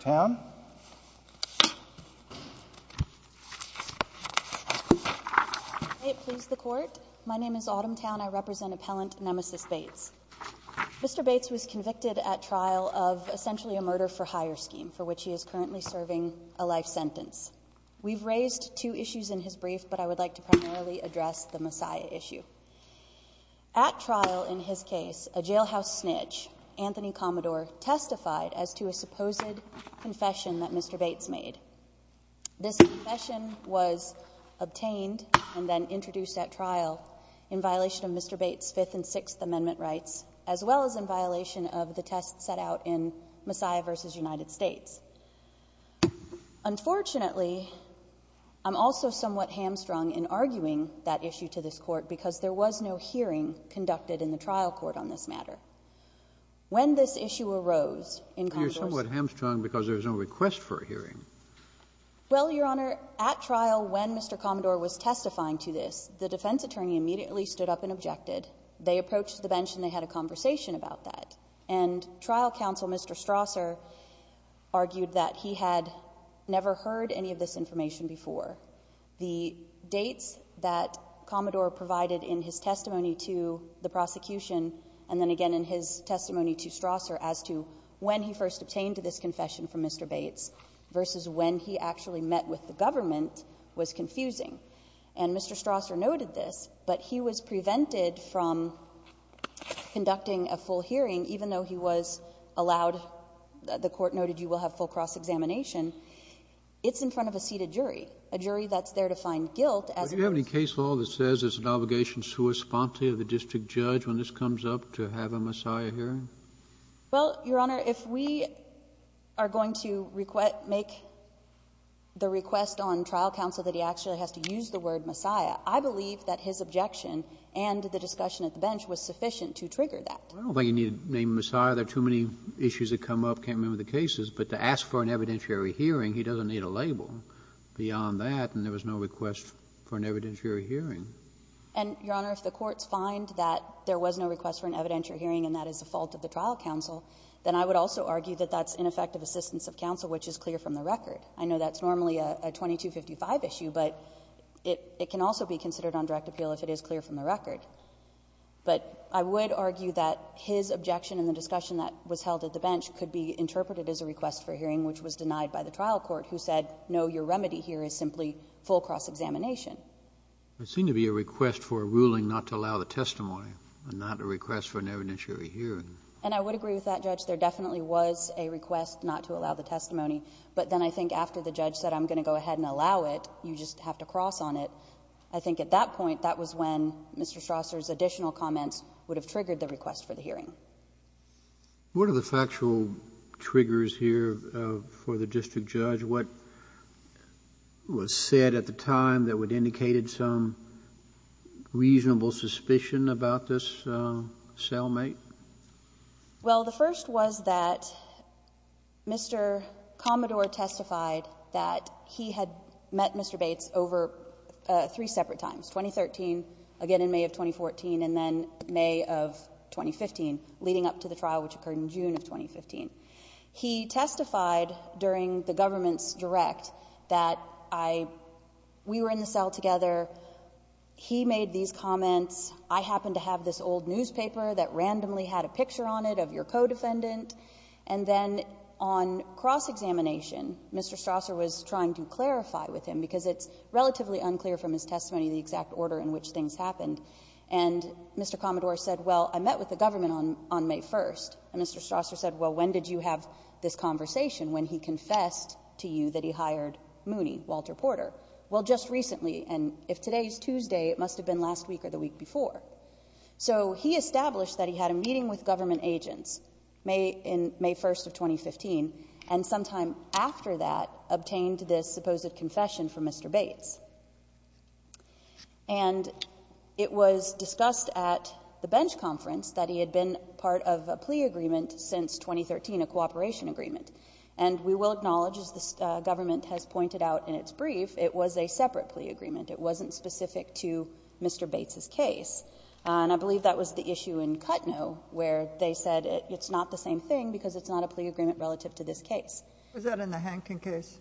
Town? May it please the court, my name is Autumn Town, I represent appellant Nemesis Bates. Mr. Bates was convicted at trial of essentially a murder-for-hire scheme for which he is currently serving a life sentence. We've raised two issues in his brief but I would like to primarily address the Messiah issue. At trial in his case, a jailhouse snitch, Anthony Commodore, testified as to a supposed confession that Mr. Bates made. This confession was obtained and then introduced at trial in violation of Mr. Bates' Fifth and Sixth Amendment rights as well as in violation of the test set out in Messiah v. United States. Unfortunately, I'm also somewhat hamstrung in arguing that issue to this trial court on this matter. When this issue arose in Commodore's... You're somewhat hamstrung because there's no request for a hearing. Well, Your Honor, at trial when Mr. Commodore was testifying to this, the defense attorney immediately stood up and objected. They approached the bench and they had a conversation about that and trial counsel Mr. Strasser argued that he had never heard any of this information before. The dates that Commodore provided in his testimony to the prosecution and then again in his testimony to Strasser as to when he first obtained this confession from Mr. Bates versus when he actually met with the government was confusing. And Mr. Strasser noted this, but he was prevented from conducting a full hearing even though he was allowed, the court noted you will have full cross-examination. It's in front of a seated jury, a jury that's there to find guilt as... Is there a case law that says it's an obligation to respond to the district judge when this comes up to have a messiah hearing? Well, Your Honor, if we are going to make the request on trial counsel that he actually has to use the word messiah, I believe that his objection and the discussion at the bench was sufficient to trigger that. I don't think he needed to name a messiah. There are too many issues that come up. I can't remember the cases, but to ask for an evidentiary hearing, he doesn't need a label beyond that and there was no request for an evidentiary hearing. And, Your Honor, if the courts find that there was no request for an evidentiary hearing and that is the fault of the trial counsel, then I would also argue that that's ineffective assistance of counsel, which is clear from the record. I know that's normally a 2255 issue, but it can also be considered on direct appeal if it is clear from the record. But I would argue that his objection and the discussion that was held at the bench could be interpreted as a request for hearing, which was denied by the trial court, who said, no, your remedy here is simply full cross-examination. It seemed to be a request for a ruling not to allow the testimony and not a request for an evidentiary hearing. And I would agree with that, Judge. There definitely was a request not to allow the testimony, but then I think after the judge said, I'm going to go ahead and allow it, you just have to cross on it. I think at that point, that was when Mr. Strasser's additional comments would have triggered the request for the hearing. What are the factual triggers here for the district judge? What was said at the time that would have indicated some reasonable suspicion about this cellmate? Well, the first was that Mr. Commodore testified that he had met Mr. Bates over three separate times, 2013, again in May of 2014, and then May of 2015. Leading up to the trial, which occurred in June of 2015. He testified during the government's direct that we were in the cell together, he made these comments. I happen to have this old newspaper that randomly had a picture on it of your co-defendant. And then on cross-examination, Mr. Strasser was trying to clarify with him, because it's relatively unclear from his testimony the exact order in which things happened. And Mr. Commodore said, well, I met with the government on May 1st. And Mr. Strasser said, well, when did you have this conversation when he confessed to you that he hired Mooney, Walter Porter? Well, just recently. And if today's Tuesday, it must have been last week or the week before. So he established that he had a meeting with government agents in May 1st of 2015. And sometime after that, obtained this supposed confession from Mr. Bates. And it was discussed at the bench conference that he had been part of a plea agreement since 2013, a cooperation agreement. And we will acknowledge, as the government has pointed out in its brief, it was a separate plea agreement. It wasn't specific to Mr. Bates's case. And I believe that was the issue in Kutnow, where they said it's not the same thing, because it's not a plea agreement relative to this case. Was that in the Hankin case?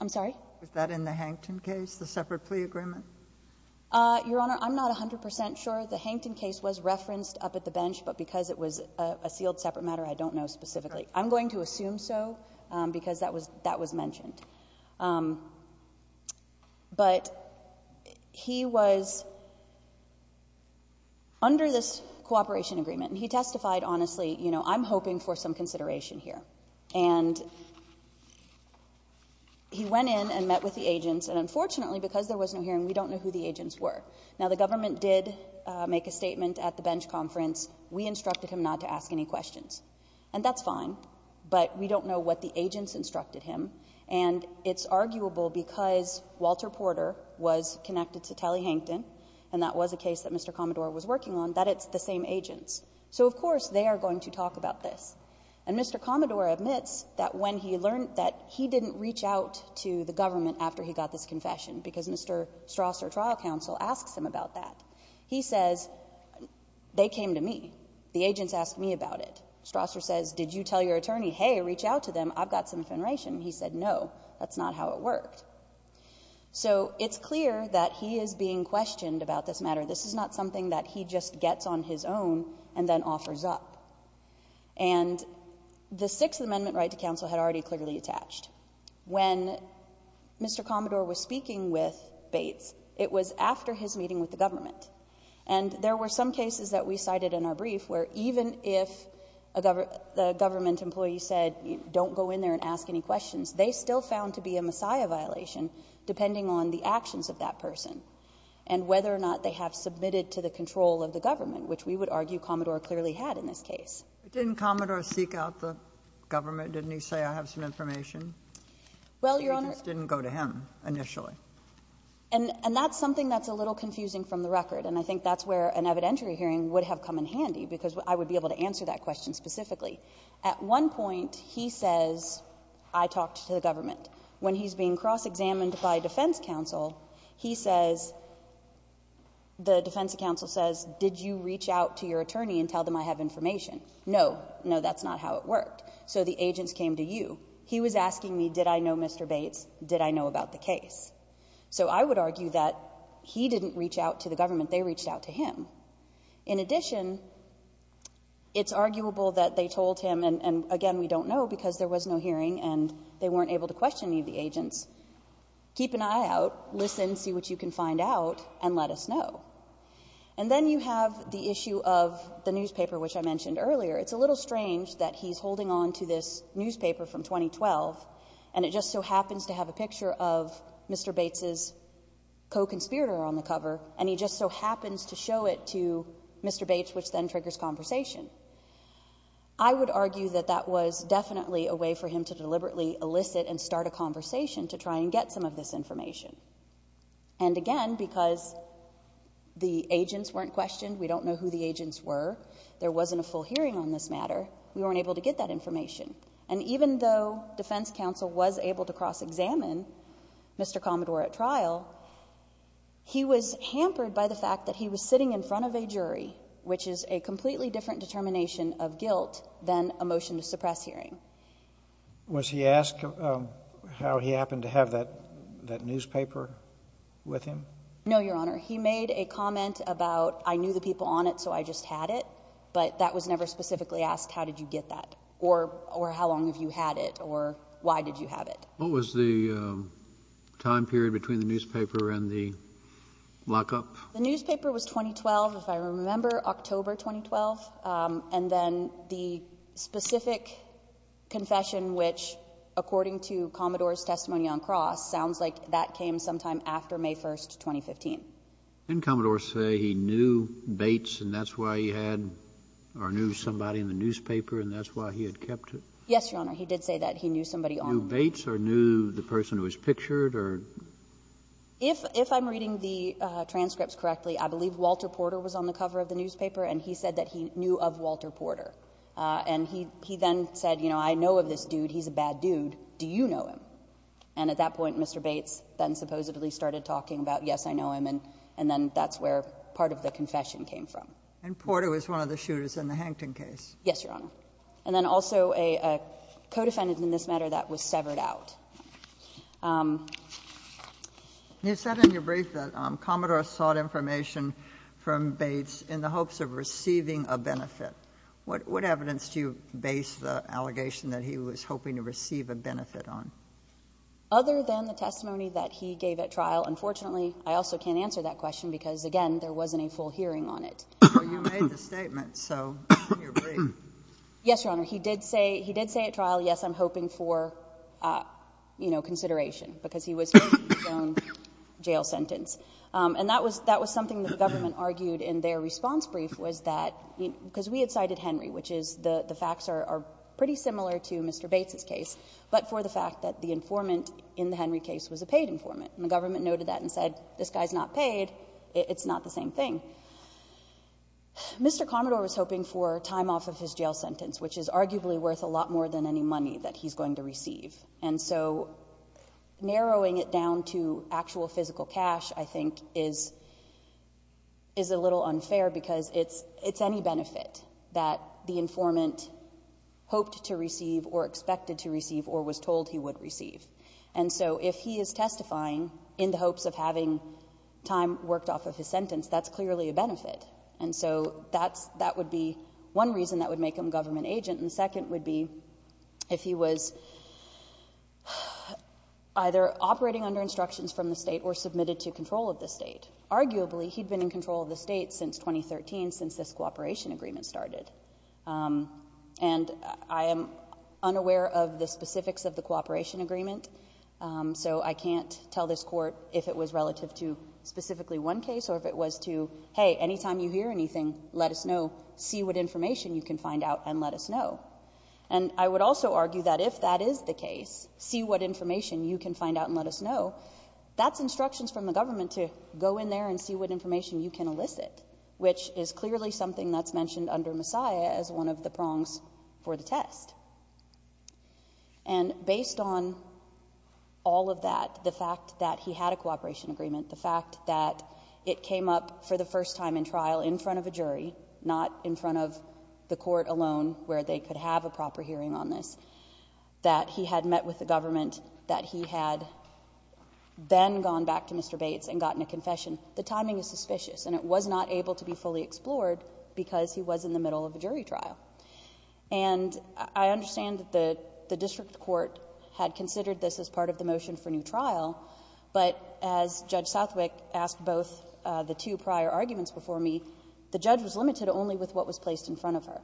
I'm sorry? Was that in the Hankin case, the separate plea agreement? Your Honor, I'm not 100% sure. The Hankin case was referenced up at the bench, but because it was a sealed separate matter, I don't know specifically. I'm going to assume so, because that was mentioned. But he was under this cooperation agreement. And he testified honestly, you know, I'm hoping for some consideration here. And he went in and met with the agents. And unfortunately, because there was no hearing, we don't know who the agents were. Now, the government did make a statement at the bench conference. We instructed him not to ask any questions. And that's fine, but we don't know what the agents instructed him. And it's arguable, because Walter Porter was connected to Tally Hankin, and that was a case that Mr. Commodore was working on, that it's the same agents. So, of course, they are going to talk about this. And Mr. Commodore admits that when he learned that he didn't reach out to the government after he got this confession, because Mr. Strasser, trial counsel, asks him about that. He says, they came to me. The agents asked me about it. Strasser says, did you tell your attorney, hey, reach out to them, I've got some information. He said, no, that's not how it worked. So, it's clear that he is being questioned about this matter. This is not something that he just gets on his own and then offers up. And the Sixth Amendment right to counsel had already clearly attached. When Mr. Commodore was speaking with Bates, it was after his meeting with the government. And there were some cases that we cited in our brief, where even if a government employee said, don't go in there and ask any questions, they still found to be a Messiah violation, depending on the actions of that person. And whether or not they have submitted to the control of the government, which we would argue Commodore clearly had in this case. But didn't Commodore seek out the government? Didn't he say, I have some information? Well, Your Honor. The agents didn't go to him, initially. And that's something that's a little confusing from the record. And I think that's where an evidentiary hearing would have come in handy, because I would be able to answer that question specifically. At one point, he says, I talked to the government. When he's being cross-examined by defense counsel, he says, the defense counsel says, did you reach out to your attorney and tell them I have information? No. No, that's not how it worked. So the agents came to you. He was asking me, did I know Mr. Bates? Did I know about the case? So I would argue that he didn't reach out to the government. They reached out to him. In addition, it's arguable that they told him, and again, we don't know, because there was no hearing and they weren't able to question any of the agents, keep an eye out, listen, see what you can find out, and let us know. And then you have the issue of the newspaper, which I mentioned earlier. It's a little strange that he's holding on to this newspaper from 2012, and it just so happens to have a picture of Mr. Bates' co-conspirator on the cover, and he just so happens to show it to Mr. Bates, which then triggers conversation. I would argue that that was definitely a way for him to deliberately elicit and start a conversation to try and get some of this information. And again, because the agents weren't questioned, we don't know who the agents were, there wasn't a full hearing on this matter, we weren't able to get that information. And even though defense counsel was able to cross-examine Mr. Commodore at trial, he was hampered by the fact that he was sitting in front of a jury, which is a completely different determination of guilt than a motion to suppress hearing. Was he asked how he happened to have that newspaper with him? No, Your Honor. He made a comment about, I knew the people on it, so I just had it. But that was never specifically asked, how did you get that? Or how long have you had it? Or why did you have it? What was the time period between the newspaper and the lockup? The newspaper was 2012, if I remember, October 2012. And then the specific confession which, according to Commodore's testimony on Cross, sounds like that came sometime after May 1, 2015. Didn't Commodore say he knew Bates and that's why he had, or knew somebody in the newspaper and that's why he had kept it? Yes, Your Honor. He did say that. He knew somebody on it. Knew Bates or knew the person who was pictured or? If I'm reading the transcripts correctly, I believe Walter Porter was on the cover of the newspaper and he said that he knew of Walter Porter. And he then said, you know, I know of this dude, he's a bad dude, do you know him? And at that point, Mr. Bates then supposedly started talking about, yes, I know him, and then that's where part of the confession came from. And Porter was one of the shooters in the Hankton case. Yes, Your Honor. And then also a co-defendant in this matter that was severed out. You said in your brief that Commodore sought information from Bates in the hopes of receiving a benefit. What evidence do you base the allegation that he was hoping to receive a benefit on? Other than the testimony that he gave at trial. Unfortunately, I also can't answer that question because, again, there wasn't a full hearing on it. Well, you made the statement, so in your brief. Yes, Your Honor. He did say at trial, yes, I'm hoping for, you know, consideration because he was hoping for his own jail sentence. And that was something that the government argued in their response brief was that, because we had cited Henry, which is the facts are pretty similar to Mr. Bates' case, but for the fact that the informant in the Henry case was a paid informant. And the government noted that and said, this guy's not paid, it's not the same thing. Mr. Commodore was hoping for time off of his jail sentence, which is arguably worth a lot more than any money that he's going to receive. And so narrowing it down to actual physical cash, I think, is a little unfair because it's any benefit that the informant hoped to receive or expected to receive or was told he would receive. And so if he is testifying in the hopes of having time worked off of his sentence, that's clearly a benefit. And so that would be one reason that would make him a government agent. And the second would be if he was either operating under instructions from the state or submitted to control of the state. Arguably, he'd been in control of the state since 2013, since this cooperation agreement started. And I am unaware of the specifics of the cooperation agreement, so I can't tell this court if it was relative to specifically one case or if it was to, hey, anytime you hear anything, let us know, see what information you can find out and let us know. And I would also argue that if that is the case, see what information you can find out and let us know, that's instructions from the government to go in there and see what information you can elicit, which is clearly something that's mentioned under Messiah as one of the prongs for the test. And based on all of that, the fact that he had a cooperation agreement, the fact that it came up for the first time in trial in front of a jury, not in front of the court alone where they could have a proper hearing on this, that he had met with the government, that he had then gone back to Mr. Bates and gotten a confession. The timing is suspicious, and it was not able to be fully explored because he was in the middle of a jury trial. And I understand that the district court had considered this as part of the motion for new trial. But as Judge Southwick asked both the two prior arguments before me, the judge was limited only with what was placed in front of her.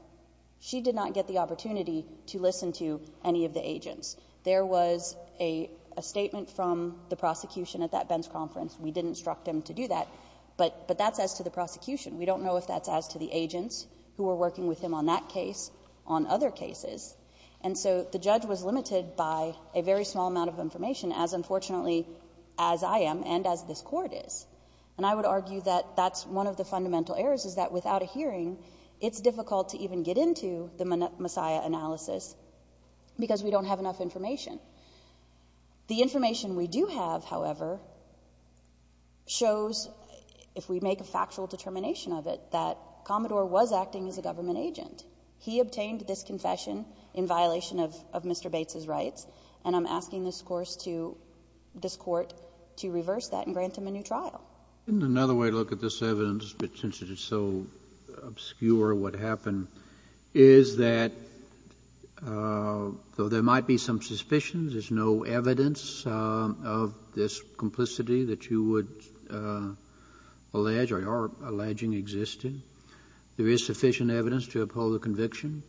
She did not get the opportunity to listen to any of the agents. There was a statement from the prosecution at that Benz conference. We did instruct him to do that, but that's as to the prosecution. We don't know if that's as to the agents who were working with him on that case, on other cases. And so the judge was limited by a very small amount of information, as unfortunately as I am and as this court is. And I would argue that that's one of the fundamental errors is that without a hearing, it's difficult to even get into the Messiah analysis because we don't have enough information. The information we do have, however, shows, if we make a factual determination of it, that Commodore was acting as a government agent. He obtained this confession in violation of Mr. Bates' rights. And I'm asking this court to reverse that and grant him a new trial. In another way to look at this evidence, but since it is so obscure what happened, is that though there might be some suspicions, there's no evidence of this complicity that you would allege or are alleging existed. There is sufficient evidence to uphold the conviction.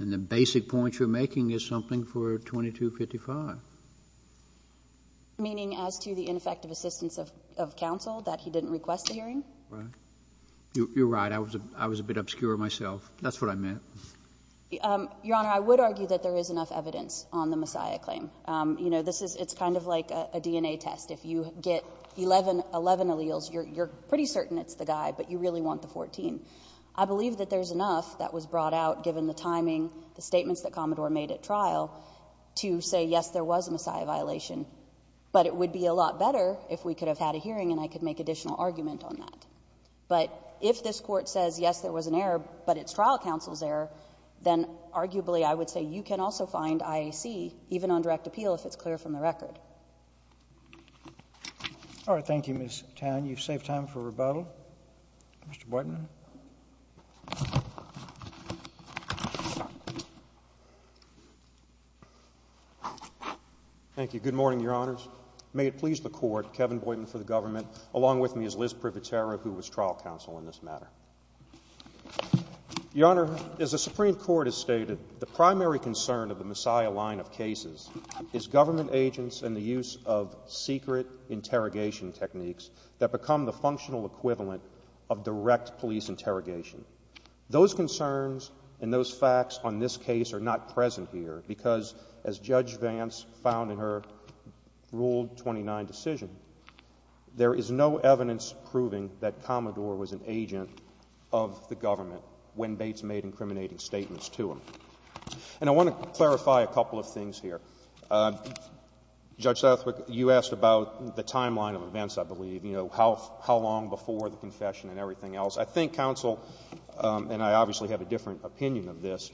And the basic point you're making is something for 2255. Meaning as to the ineffective assistance of counsel that he didn't request a hearing? Right. You're right. I was a bit obscure myself. That's what I meant. Your Honor, I would argue that there is enough evidence on the Messiah claim. You know, it's kind of like a DNA test. If you get 11 alleles, you're pretty certain it's the guy, but you really want the 14. I believe that there's enough that was brought out, given the timing, the statements that Commodore made at trial, to say, yes, there was a Messiah violation. But it would be a lot better if we could have had a hearing and I could make additional argument on that. But if this Court says, yes, there was an error, but it's trial counsel's error, then arguably I would say you can also find IAC, even on direct appeal, if it's clear from the record. All right. Thank you, Ms. Town. You've saved time for rebuttal. Mr. Borton. Thank you. Good morning, Your Honors. May it please the Court, Kevin Borton for the government, along with me is Liz Privatero, who was trial counsel in this matter. Your Honor, as the Supreme Court has stated, the primary concern of the Messiah line of cases is government agents and the use of secret interrogation techniques that become the functional equivalent of direct police interrogation. Those concerns and those facts on this case are not present here, because as Judge Vance found in her Rule 29 decision, there is no evidence proving that Commodore was an agent of the government when Bates made incriminating statements to him. And I want to clarify a couple of things here. Judge Southwick, you asked about the timeline of events, I believe, you know, how long before the confession and everything else. I think counsel, and I obviously have a different opinion of this,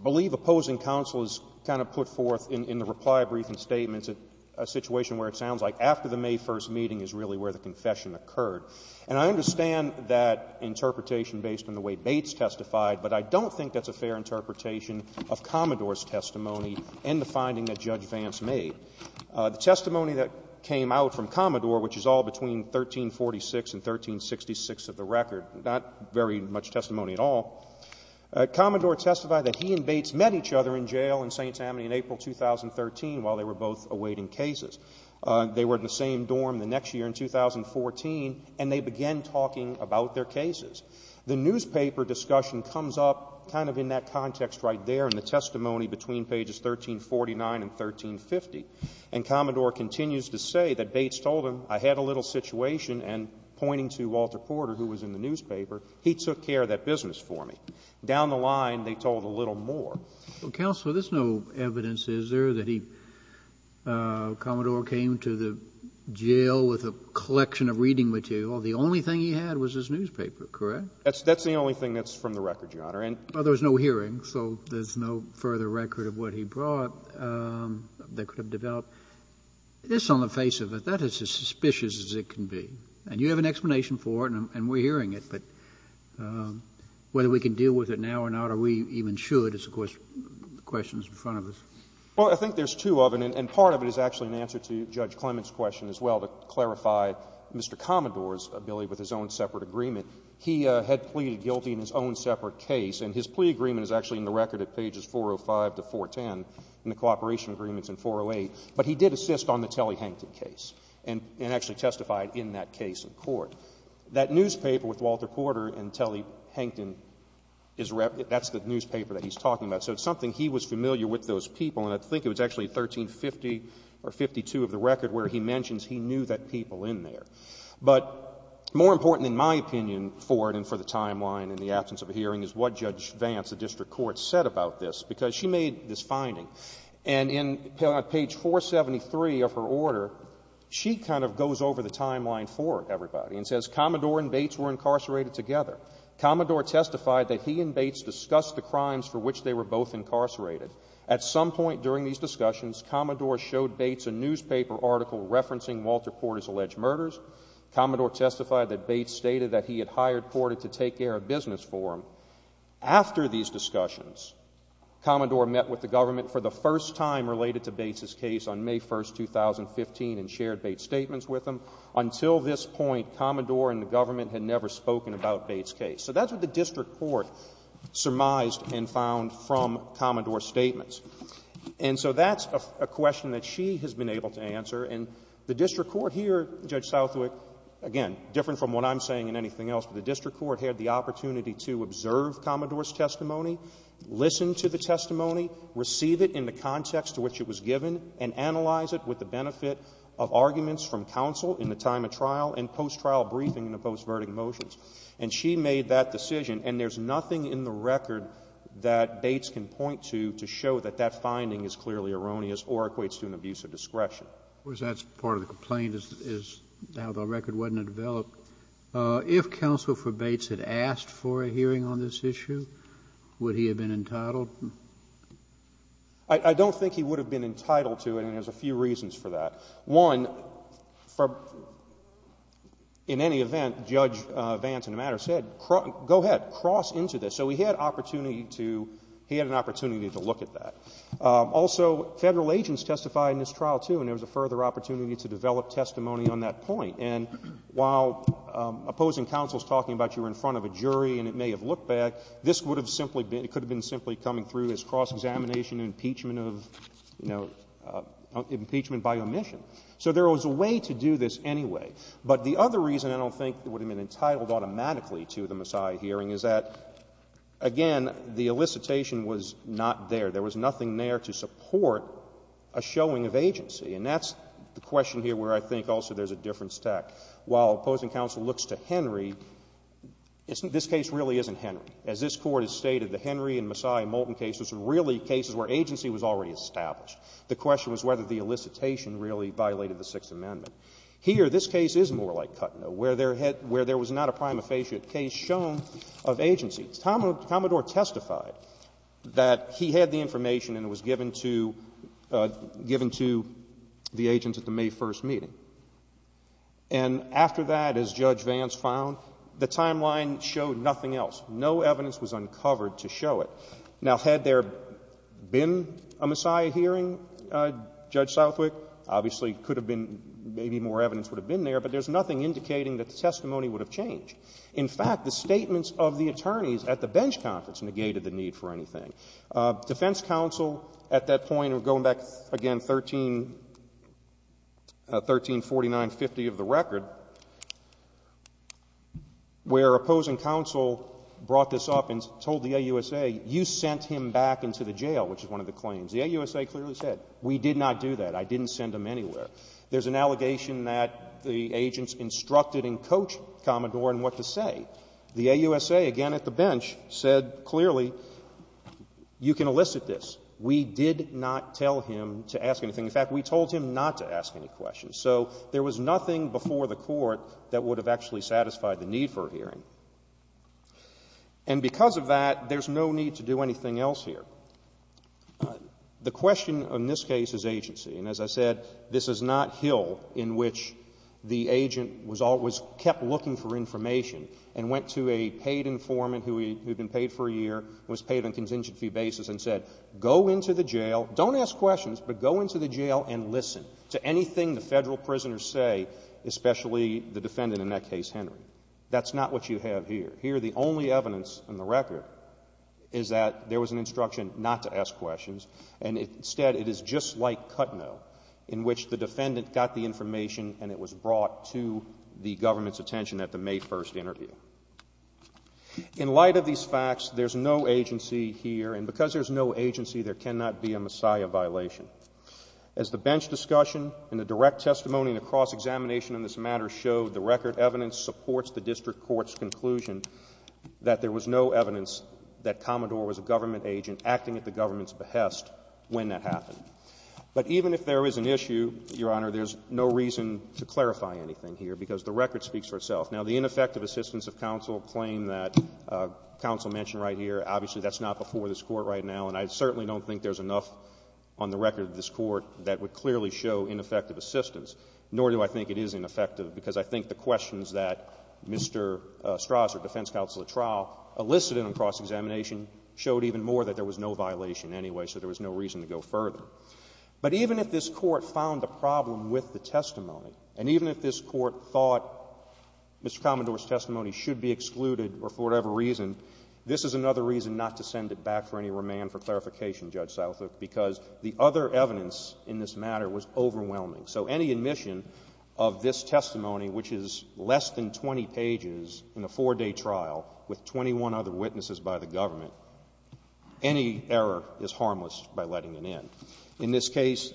believe opposing counsel is kind of put forth in the reply brief and statements a situation where it sounds like after the May 1st meeting is really where the confession occurred. And I understand that interpretation based on the way Bates testified, but I don't think that's a fair interpretation of Commodore's testimony and the finding that Judge Vance made. The testimony that came out from Commodore, which is all between 1346 and 1366 of the record, not very much testimony at all, Commodore testified that he and Bates met each other in jail in St. Tammany in April 2013 while they were both awaiting cases. They were in the same dorm the next year in 2014, and they began talking about their cases. The newspaper discussion comes up kind of in that context right there in the testimony between pages 1349 and 1350, and Commodore continues to say that Bates told him, I had a little situation, and pointing to Walter Porter, who was in the newspaper, he took care of that business for me. Down the line, they told a little more. Well, counsel, there's no evidence, is there, that Commodore came to the jail with a collection of reading material? Well, the only thing he had was his newspaper, correct? That's the only thing that's from the record, Your Honor. Well, there was no hearing, so there's no further record of what he brought. They could have developed this on the face of it. That is as suspicious as it can be. And you have an explanation for it, and we're hearing it, but whether we can deal with it now or not, or we even should, is, of course, the question that's in front of us. Well, I think there's two of them, and part of it is actually an answer to Judge Clement's question as well to clarify Mr. Commodore's ability with his own separate agreement. He had pleaded guilty in his own separate case, and his plea agreement is actually in the record at pages 405 to 410 in the cooperation agreements in 408. But he did assist on the Telly-Hankton case and actually testified in that case in court. That newspaper with Walter Porter and Telly-Hankton, that's the newspaper that he's talking about. So it's something he was familiar with, those people, and I think it was actually 1350 or 1352 of the record where he mentions he knew that people in there. But more important in my opinion for it and for the timeline in the absence of a hearing is what Judge Vance, the district court, said about this, because she made this finding. And on page 473 of her order, she kind of goes over the timeline for everybody and says, Commodore and Bates were incarcerated together. Commodore testified that he and Bates discussed the crimes for which they were both incarcerated. At some point during these discussions, Commodore showed Bates a newspaper article referencing Walter Porter's alleged murders. Commodore testified that Bates stated that he had hired Porter to take care of business for him. After these discussions, Commodore met with the government for the first time related to Bates' case on May 1, 2015 and shared Bates' statements with them. Until this point, Commodore and the government had never spoken about Bates' case. So that's what the district court surmised and found from Commodore's statements. And so that's a question that she has been able to answer, and the district court here, Judge Southwick, again, different from what I'm saying and anything else, but the district court had the opportunity to observe Commodore's testimony, listen to the testimony, receive it in the context to which it was given, and analyze it with the benefit of arguments from counsel in the time of trial and post-trial briefing in the post-verdict motions. And she made that decision, and there's nothing in the record that Bates can point to to show that that finding is clearly erroneous or equates to an abuse of discretion. That's part of the complaint, is how the record wasn't developed. If counsel for Bates had asked for a hearing on this issue, would he have been entitled? I don't think he would have been entitled to it, and there's a few reasons for that. One, in any event, Judge Vance, in the matter, said, go ahead, cross into this. So he had an opportunity to look at that. Also, Federal agents testified in this trial, too, and there was a further opportunity to develop testimony on that point. And while opposing counsel is talking about you were in front of a jury and it may have looked bad, this could have simply been coming through as cross-examination, impeachment by omission. So there was a way to do this anyway. But the other reason I don't think it would have been entitled automatically to the Maasai hearing is that, again, the elicitation was not there. There was nothing there to support a showing of agency. And that's the question here where I think also there's a difference to act. While opposing counsel looks to Henry, this case really isn't Henry. As this Court has stated, the Henry and Maasai and Moulton cases were really cases where agency was already established. The question was whether the elicitation really violated the Sixth Amendment. Here, this case is more like Kutno, where there was not a prima facie case shown of agency. Commodore testified that he had the information and it was given to the agents at the May 1st meeting. And after that, as Judge Vance found, the timeline showed nothing else. No evidence was uncovered to show it. Now, had there been a Maasai hearing, Judge Southwick, obviously could have been, maybe more evidence would have been there, but there's nothing indicating that the testimony would have changed. In fact, the statements of the attorneys at the bench conference negated the need for anything. Defense counsel at that point, going back, again, 1349, 50 of the record, where opposing counsel brought this up and told the AUSA, you sent him back into the jail, which is one of the claims. The AUSA clearly said, we did not do that. I didn't send him anywhere. There's an allegation that the agents instructed and coached Commodore in what to say. The AUSA, again at the bench, said clearly, you can elicit this. We did not tell him to ask anything. In fact, we told him not to ask any questions. So there was nothing before the Court that would have actually satisfied the need for a hearing. And because of that, there's no need to do anything else here. The question in this case is agency, and as I said, this is not Hill in which the agent was always kept looking for information and went to a paid informant who had been paid for a year, was paid on a contingency basis, and said, go into the jail, don't ask questions, but go into the jail and listen to anything the Federal prisoners say, especially the defendant in that case, Henry. That's not what you have here. Here the only evidence in the record is that there was an instruction not to ask questions, and instead it is just like Kutno in which the defendant got the information and it was brought to the government's attention at the May 1st interview. In light of these facts, there's no agency here, and because there's no agency, there cannot be a Messiah violation. As the bench discussion and the direct testimony and the cross-examination on this matter showed, the record evidence supports the district court's conclusion that there was no evidence that Commodore was a government agent acting at the government's behest when that happened. But even if there is an issue, Your Honor, there's no reason to clarify anything here because the record speaks for itself. Now, the ineffective assistance of counsel claim that counsel mentioned right here, obviously that's not before this Court right now, and I certainly don't think there's enough on the record of this Court that would clearly show ineffective assistance, nor do I think it is ineffective because I think the questions that Mr. Straus or defense counsel at trial elicited in the cross-examination showed even more that there was no violation anyway, so there was no reason to go further. But even if this Court found a problem with the testimony, and even if this Court thought Mr. Commodore's testimony should be excluded or for whatever reason, this is another reason not to send it back for any remand for clarification, Judge Seilthuk, because the other evidence in this matter was overwhelming. So any admission of this testimony, which is less than 20 pages in a four-day trial with 21 other witnesses by the government, any error is harmless by letting it in. In this case,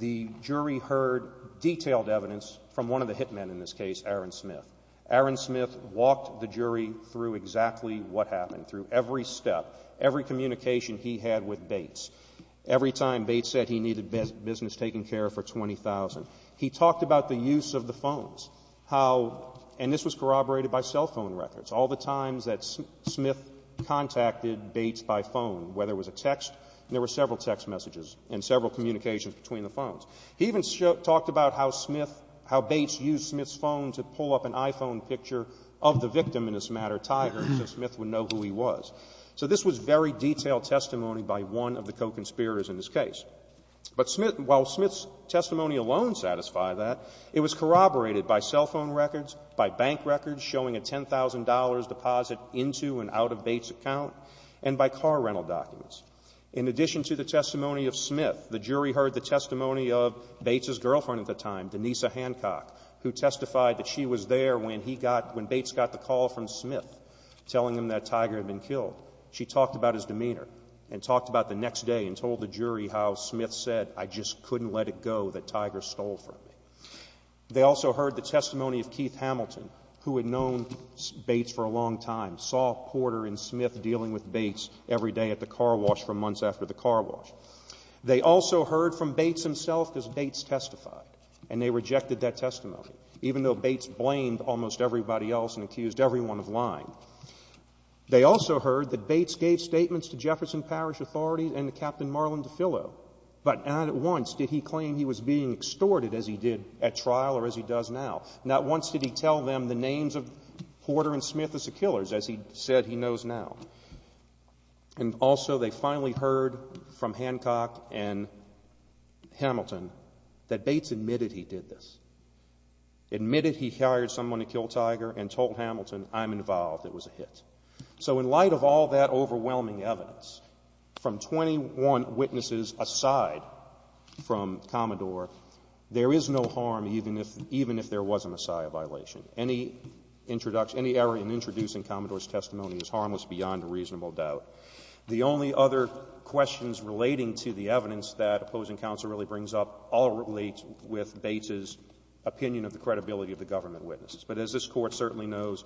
the jury heard detailed evidence from one of the hitmen in this case, Aaron Smith. Aaron Smith walked the jury through exactly what happened, through every step, every communication he had with Bates. Every time Bates said he needed business taken care of for $20,000. He talked about the use of the phones, how, and this was corroborated by cell phone records, all the times that Smith contacted Bates by phone, whether it was a text, and there were several text messages and several communications between the phones. He even talked about how Smith, how Bates used Smith's phone to pull up an iPhone picture of the victim in this matter, Tiger, so Smith would know who he was. So this was very detailed testimony by one of the co-conspirators in this case. But Smith, while Smith's testimony alone satisfied that, it was corroborated by cell phone records, by bank records showing a $10,000 deposit into and out of Bates' account, and by car rental documents. In addition to the testimony of Smith, the jury heard the testimony of Bates' girlfriend at the time, Denise Hancock, who testified that she was there when he got, when Bates got the call from Smith telling him that Tiger had been killed. She talked about his demeanor and talked about the next day and told the jury how Smith said, I just couldn't let it go that Tiger stole from me. They also heard the testimony of Keith Hamilton, who had known Bates for a long time, saw Porter and Smith dealing with Bates every day at the car wash for months after the car wash. They also heard from Bates himself, because Bates testified, and they rejected that testimony, even though Bates blamed almost everybody else and accused everyone of lying. They also heard that Bates gave statements to Jefferson Parish authorities and Captain Marlon DeFillo, but not once did he claim he was being extorted, as he did at trial or as he does now. Not once did he tell them the names of Porter and Smith as the killers, as he said he knows now. And also they finally heard from Hancock and Hamilton that Bates admitted he did this, admitted he hired someone to kill Tiger and told Hamilton, I'm involved, it was a hit. So in light of all that overwhelming evidence, from 21 witnesses aside from Commodore, there is no harm even if there was a Messiah violation. Any error in introducing Commodore's testimony is harmless beyond a reasonable doubt. The only other questions relating to the evidence that opposing counsel really brings up all relate with Bates' opinion of the credibility of the government witnesses. But as this Court certainly knows,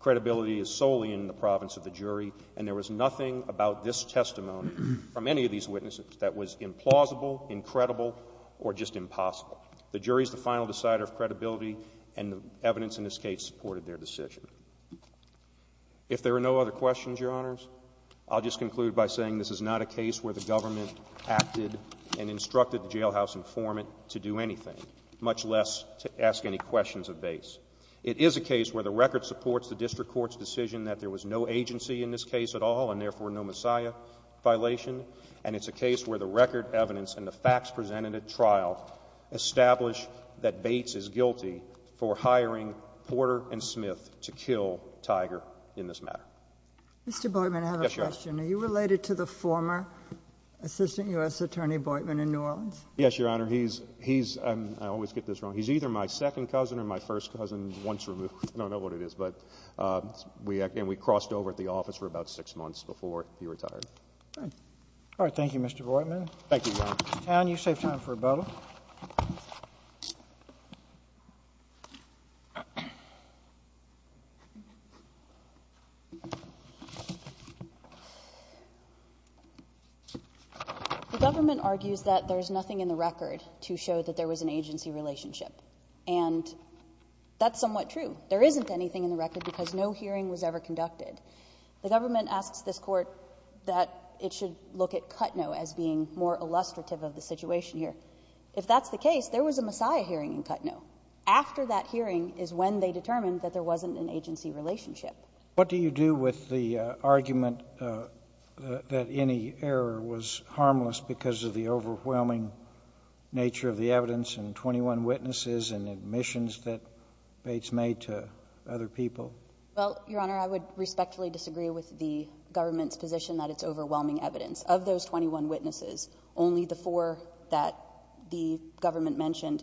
credibility is solely in the province of the jury, and there was nothing about this testimony from any of these witnesses that was implausible, incredible, or just impossible. The jury is the final decider of credibility, and the evidence in this case supported their decision. If there are no other questions, Your Honors, I'll just conclude by saying this is not a case where the government acted and instructed the jailhouse informant to do anything, much less to ask any questions of Bates. It is a case where the record supports the district court's decision that there was no agency in this case at all, and therefore no Messiah violation, and it's a case where the record evidence and the facts presented at trial establish that Bates is guilty for hiring Porter and Smith to kill Tiger in this matter. Mr. Boitman, I have a question. Yes, Your Honor. Are you related to the former Assistant U.S. Attorney Boitman in New Orleans? Yes, Your Honor. He's either my second cousin or my first cousin, once removed. I don't know what it is, and we crossed over at the office for about six months before he retired. All right. Thank you, Mr. Boitman. Thank you, Your Honor. Ms. Town, you save time for rebuttal. The government argues that there's nothing in the record to show that there was an agency relationship, and that's somewhat true. There isn't anything in the record because no hearing was ever conducted. The government asks this Court that it should look at Kutnow as being more illustrative of the situation here. If that's the case, there was a Messiah hearing in Kutnow. After that hearing is when they determined that there wasn't an agency relationship. What do you do with the argument that any error was harmless because of the overwhelming nature of the evidence and 21 witnesses and admissions that Bates made to other people? Well, Your Honor, I would respectfully disagree with the government's position that it's overwhelming evidence. Of those 21 witnesses, only the four that the government mentioned,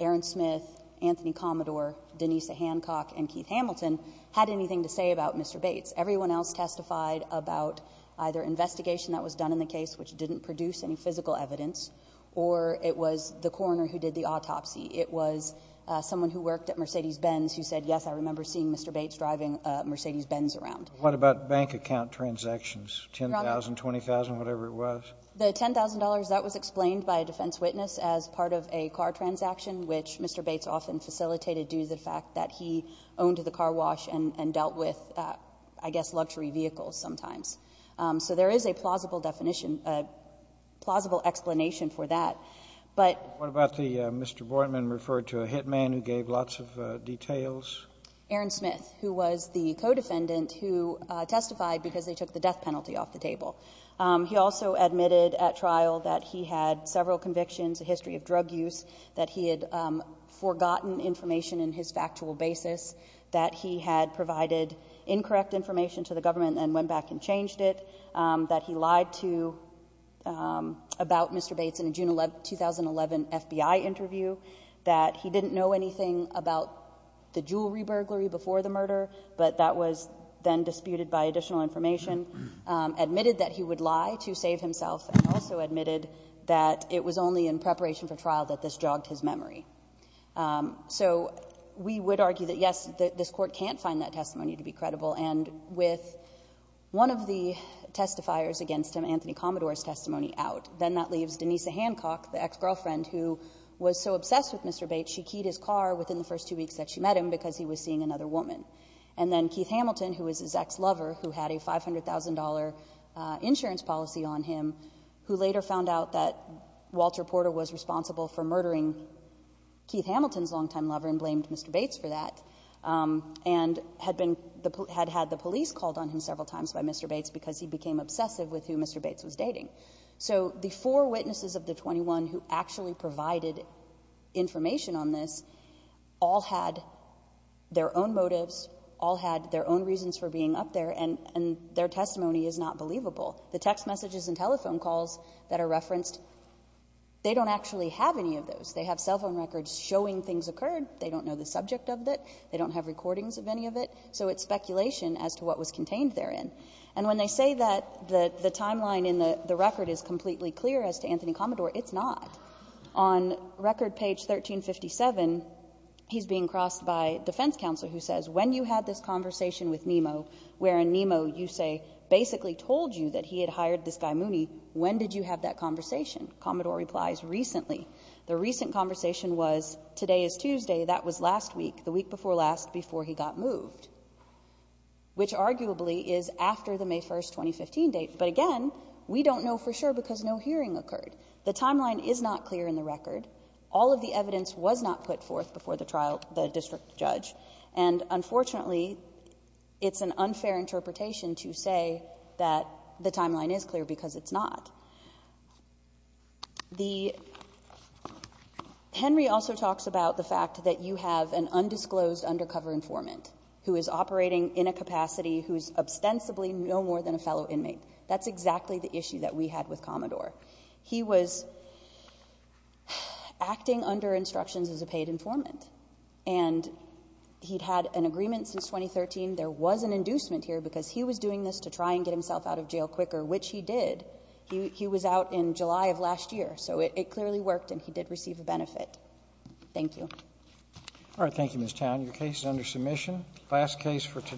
Aaron Smith, Anthony Commodore, Denise Hancock, and Keith Hamilton, had anything to say about Mr. Bates. Everyone else testified about either investigation that was done in the case, which didn't produce any physical evidence, or it was the coroner who did the autopsy. It was someone who worked at Mercedes-Benz who said, yes, I remember seeing Mr. Bates driving a Mercedes-Benz around. What about bank account transactions, $10,000, $20,000, whatever it was? Your Honor, the $10,000, that was explained by a defense witness as part of a car transaction, which Mr. Bates often facilitated due to the fact that he owned the car wash and dealt with, I guess, luxury vehicles sometimes. So there is a plausible definition, a plausible explanation for that. But ---- What about the Mr. Bortman referred to a hitman who gave lots of details? Aaron Smith, who was the co-defendant who testified because they took the death penalty off the table. He also admitted at trial that he had several convictions, a history of drug use, that he had forgotten information in his factual basis, that he had provided incorrect information to the government and went back and changed it, that he lied to ---- about Mr. Bates in a June 2011 FBI interview, that he didn't know anything about the jewelry burglary before the murder, but that was then disputed by additional information, admitted that he would lie to save himself, and also admitted that it was only in preparation for trial that this jogged his memory. So we would argue that, yes, this Court can't find that testimony to be credible. And with one of the testifiers against him, Anthony Commodore's testimony, out, then that leaves Denise Hancock, the ex-girlfriend who was so obsessed with Mr. Bates, she keyed his car within the first two weeks that she met him because he was seeing another woman. And then Keith Hamilton, who was his ex-lover, who had a $500,000 insurance policy on him, who later found out that Walter Porter was responsible for murdering Keith Hamilton's longtime lover and blamed Mr. Bates for that, and had been ---- had had the police called on him several times by Mr. Bates because he became obsessive with who Mr. Bates was dating. So the four witnesses of the 21 who actually provided information on this all had their own motives, all had their own reasons for being up there, and their testimony is not believable. The text messages and telephone calls that are referenced, they don't actually have any of those. They have cell phone records showing things occurred. They don't know the subject of it. They don't have recordings of any of it. So it's speculation as to what was contained therein. And when they say that the timeline in the record is completely clear as to Anthony Commodore, it's not. On record page 1357, he's being crossed by defense counsel who says, when you had this conversation with Nemo, wherein Nemo, you say, basically told you that he had hired this guy Mooney, when did you have that conversation? Commodore replies, recently. The recent conversation was today is Tuesday. That was last week, the week before last, before he got moved, which arguably is after the May 1st, 2015 date. But again, we don't know for sure because no hearing occurred. The timeline is not clear in the record. All of the evidence was not put forth before the trial, the district judge. And unfortunately, it's an unfair interpretation to say that the timeline is clear because it's not. The, Henry also talks about the fact that you have an undisclosed undercover informant who is operating in a capacity who is ostensibly no more than a fellow inmate. That's exactly the issue that we had with Commodore. He was acting under instructions as a paid informant. And he'd had an agreement since 2013. There was an inducement here because he was doing this to try and get himself out of jail quicker, which he did. He was out in July of last year. So it clearly worked and he did receive a benefit. Thank you. All right, thank you, Ms. Town. Your case is under submission. Last case for today.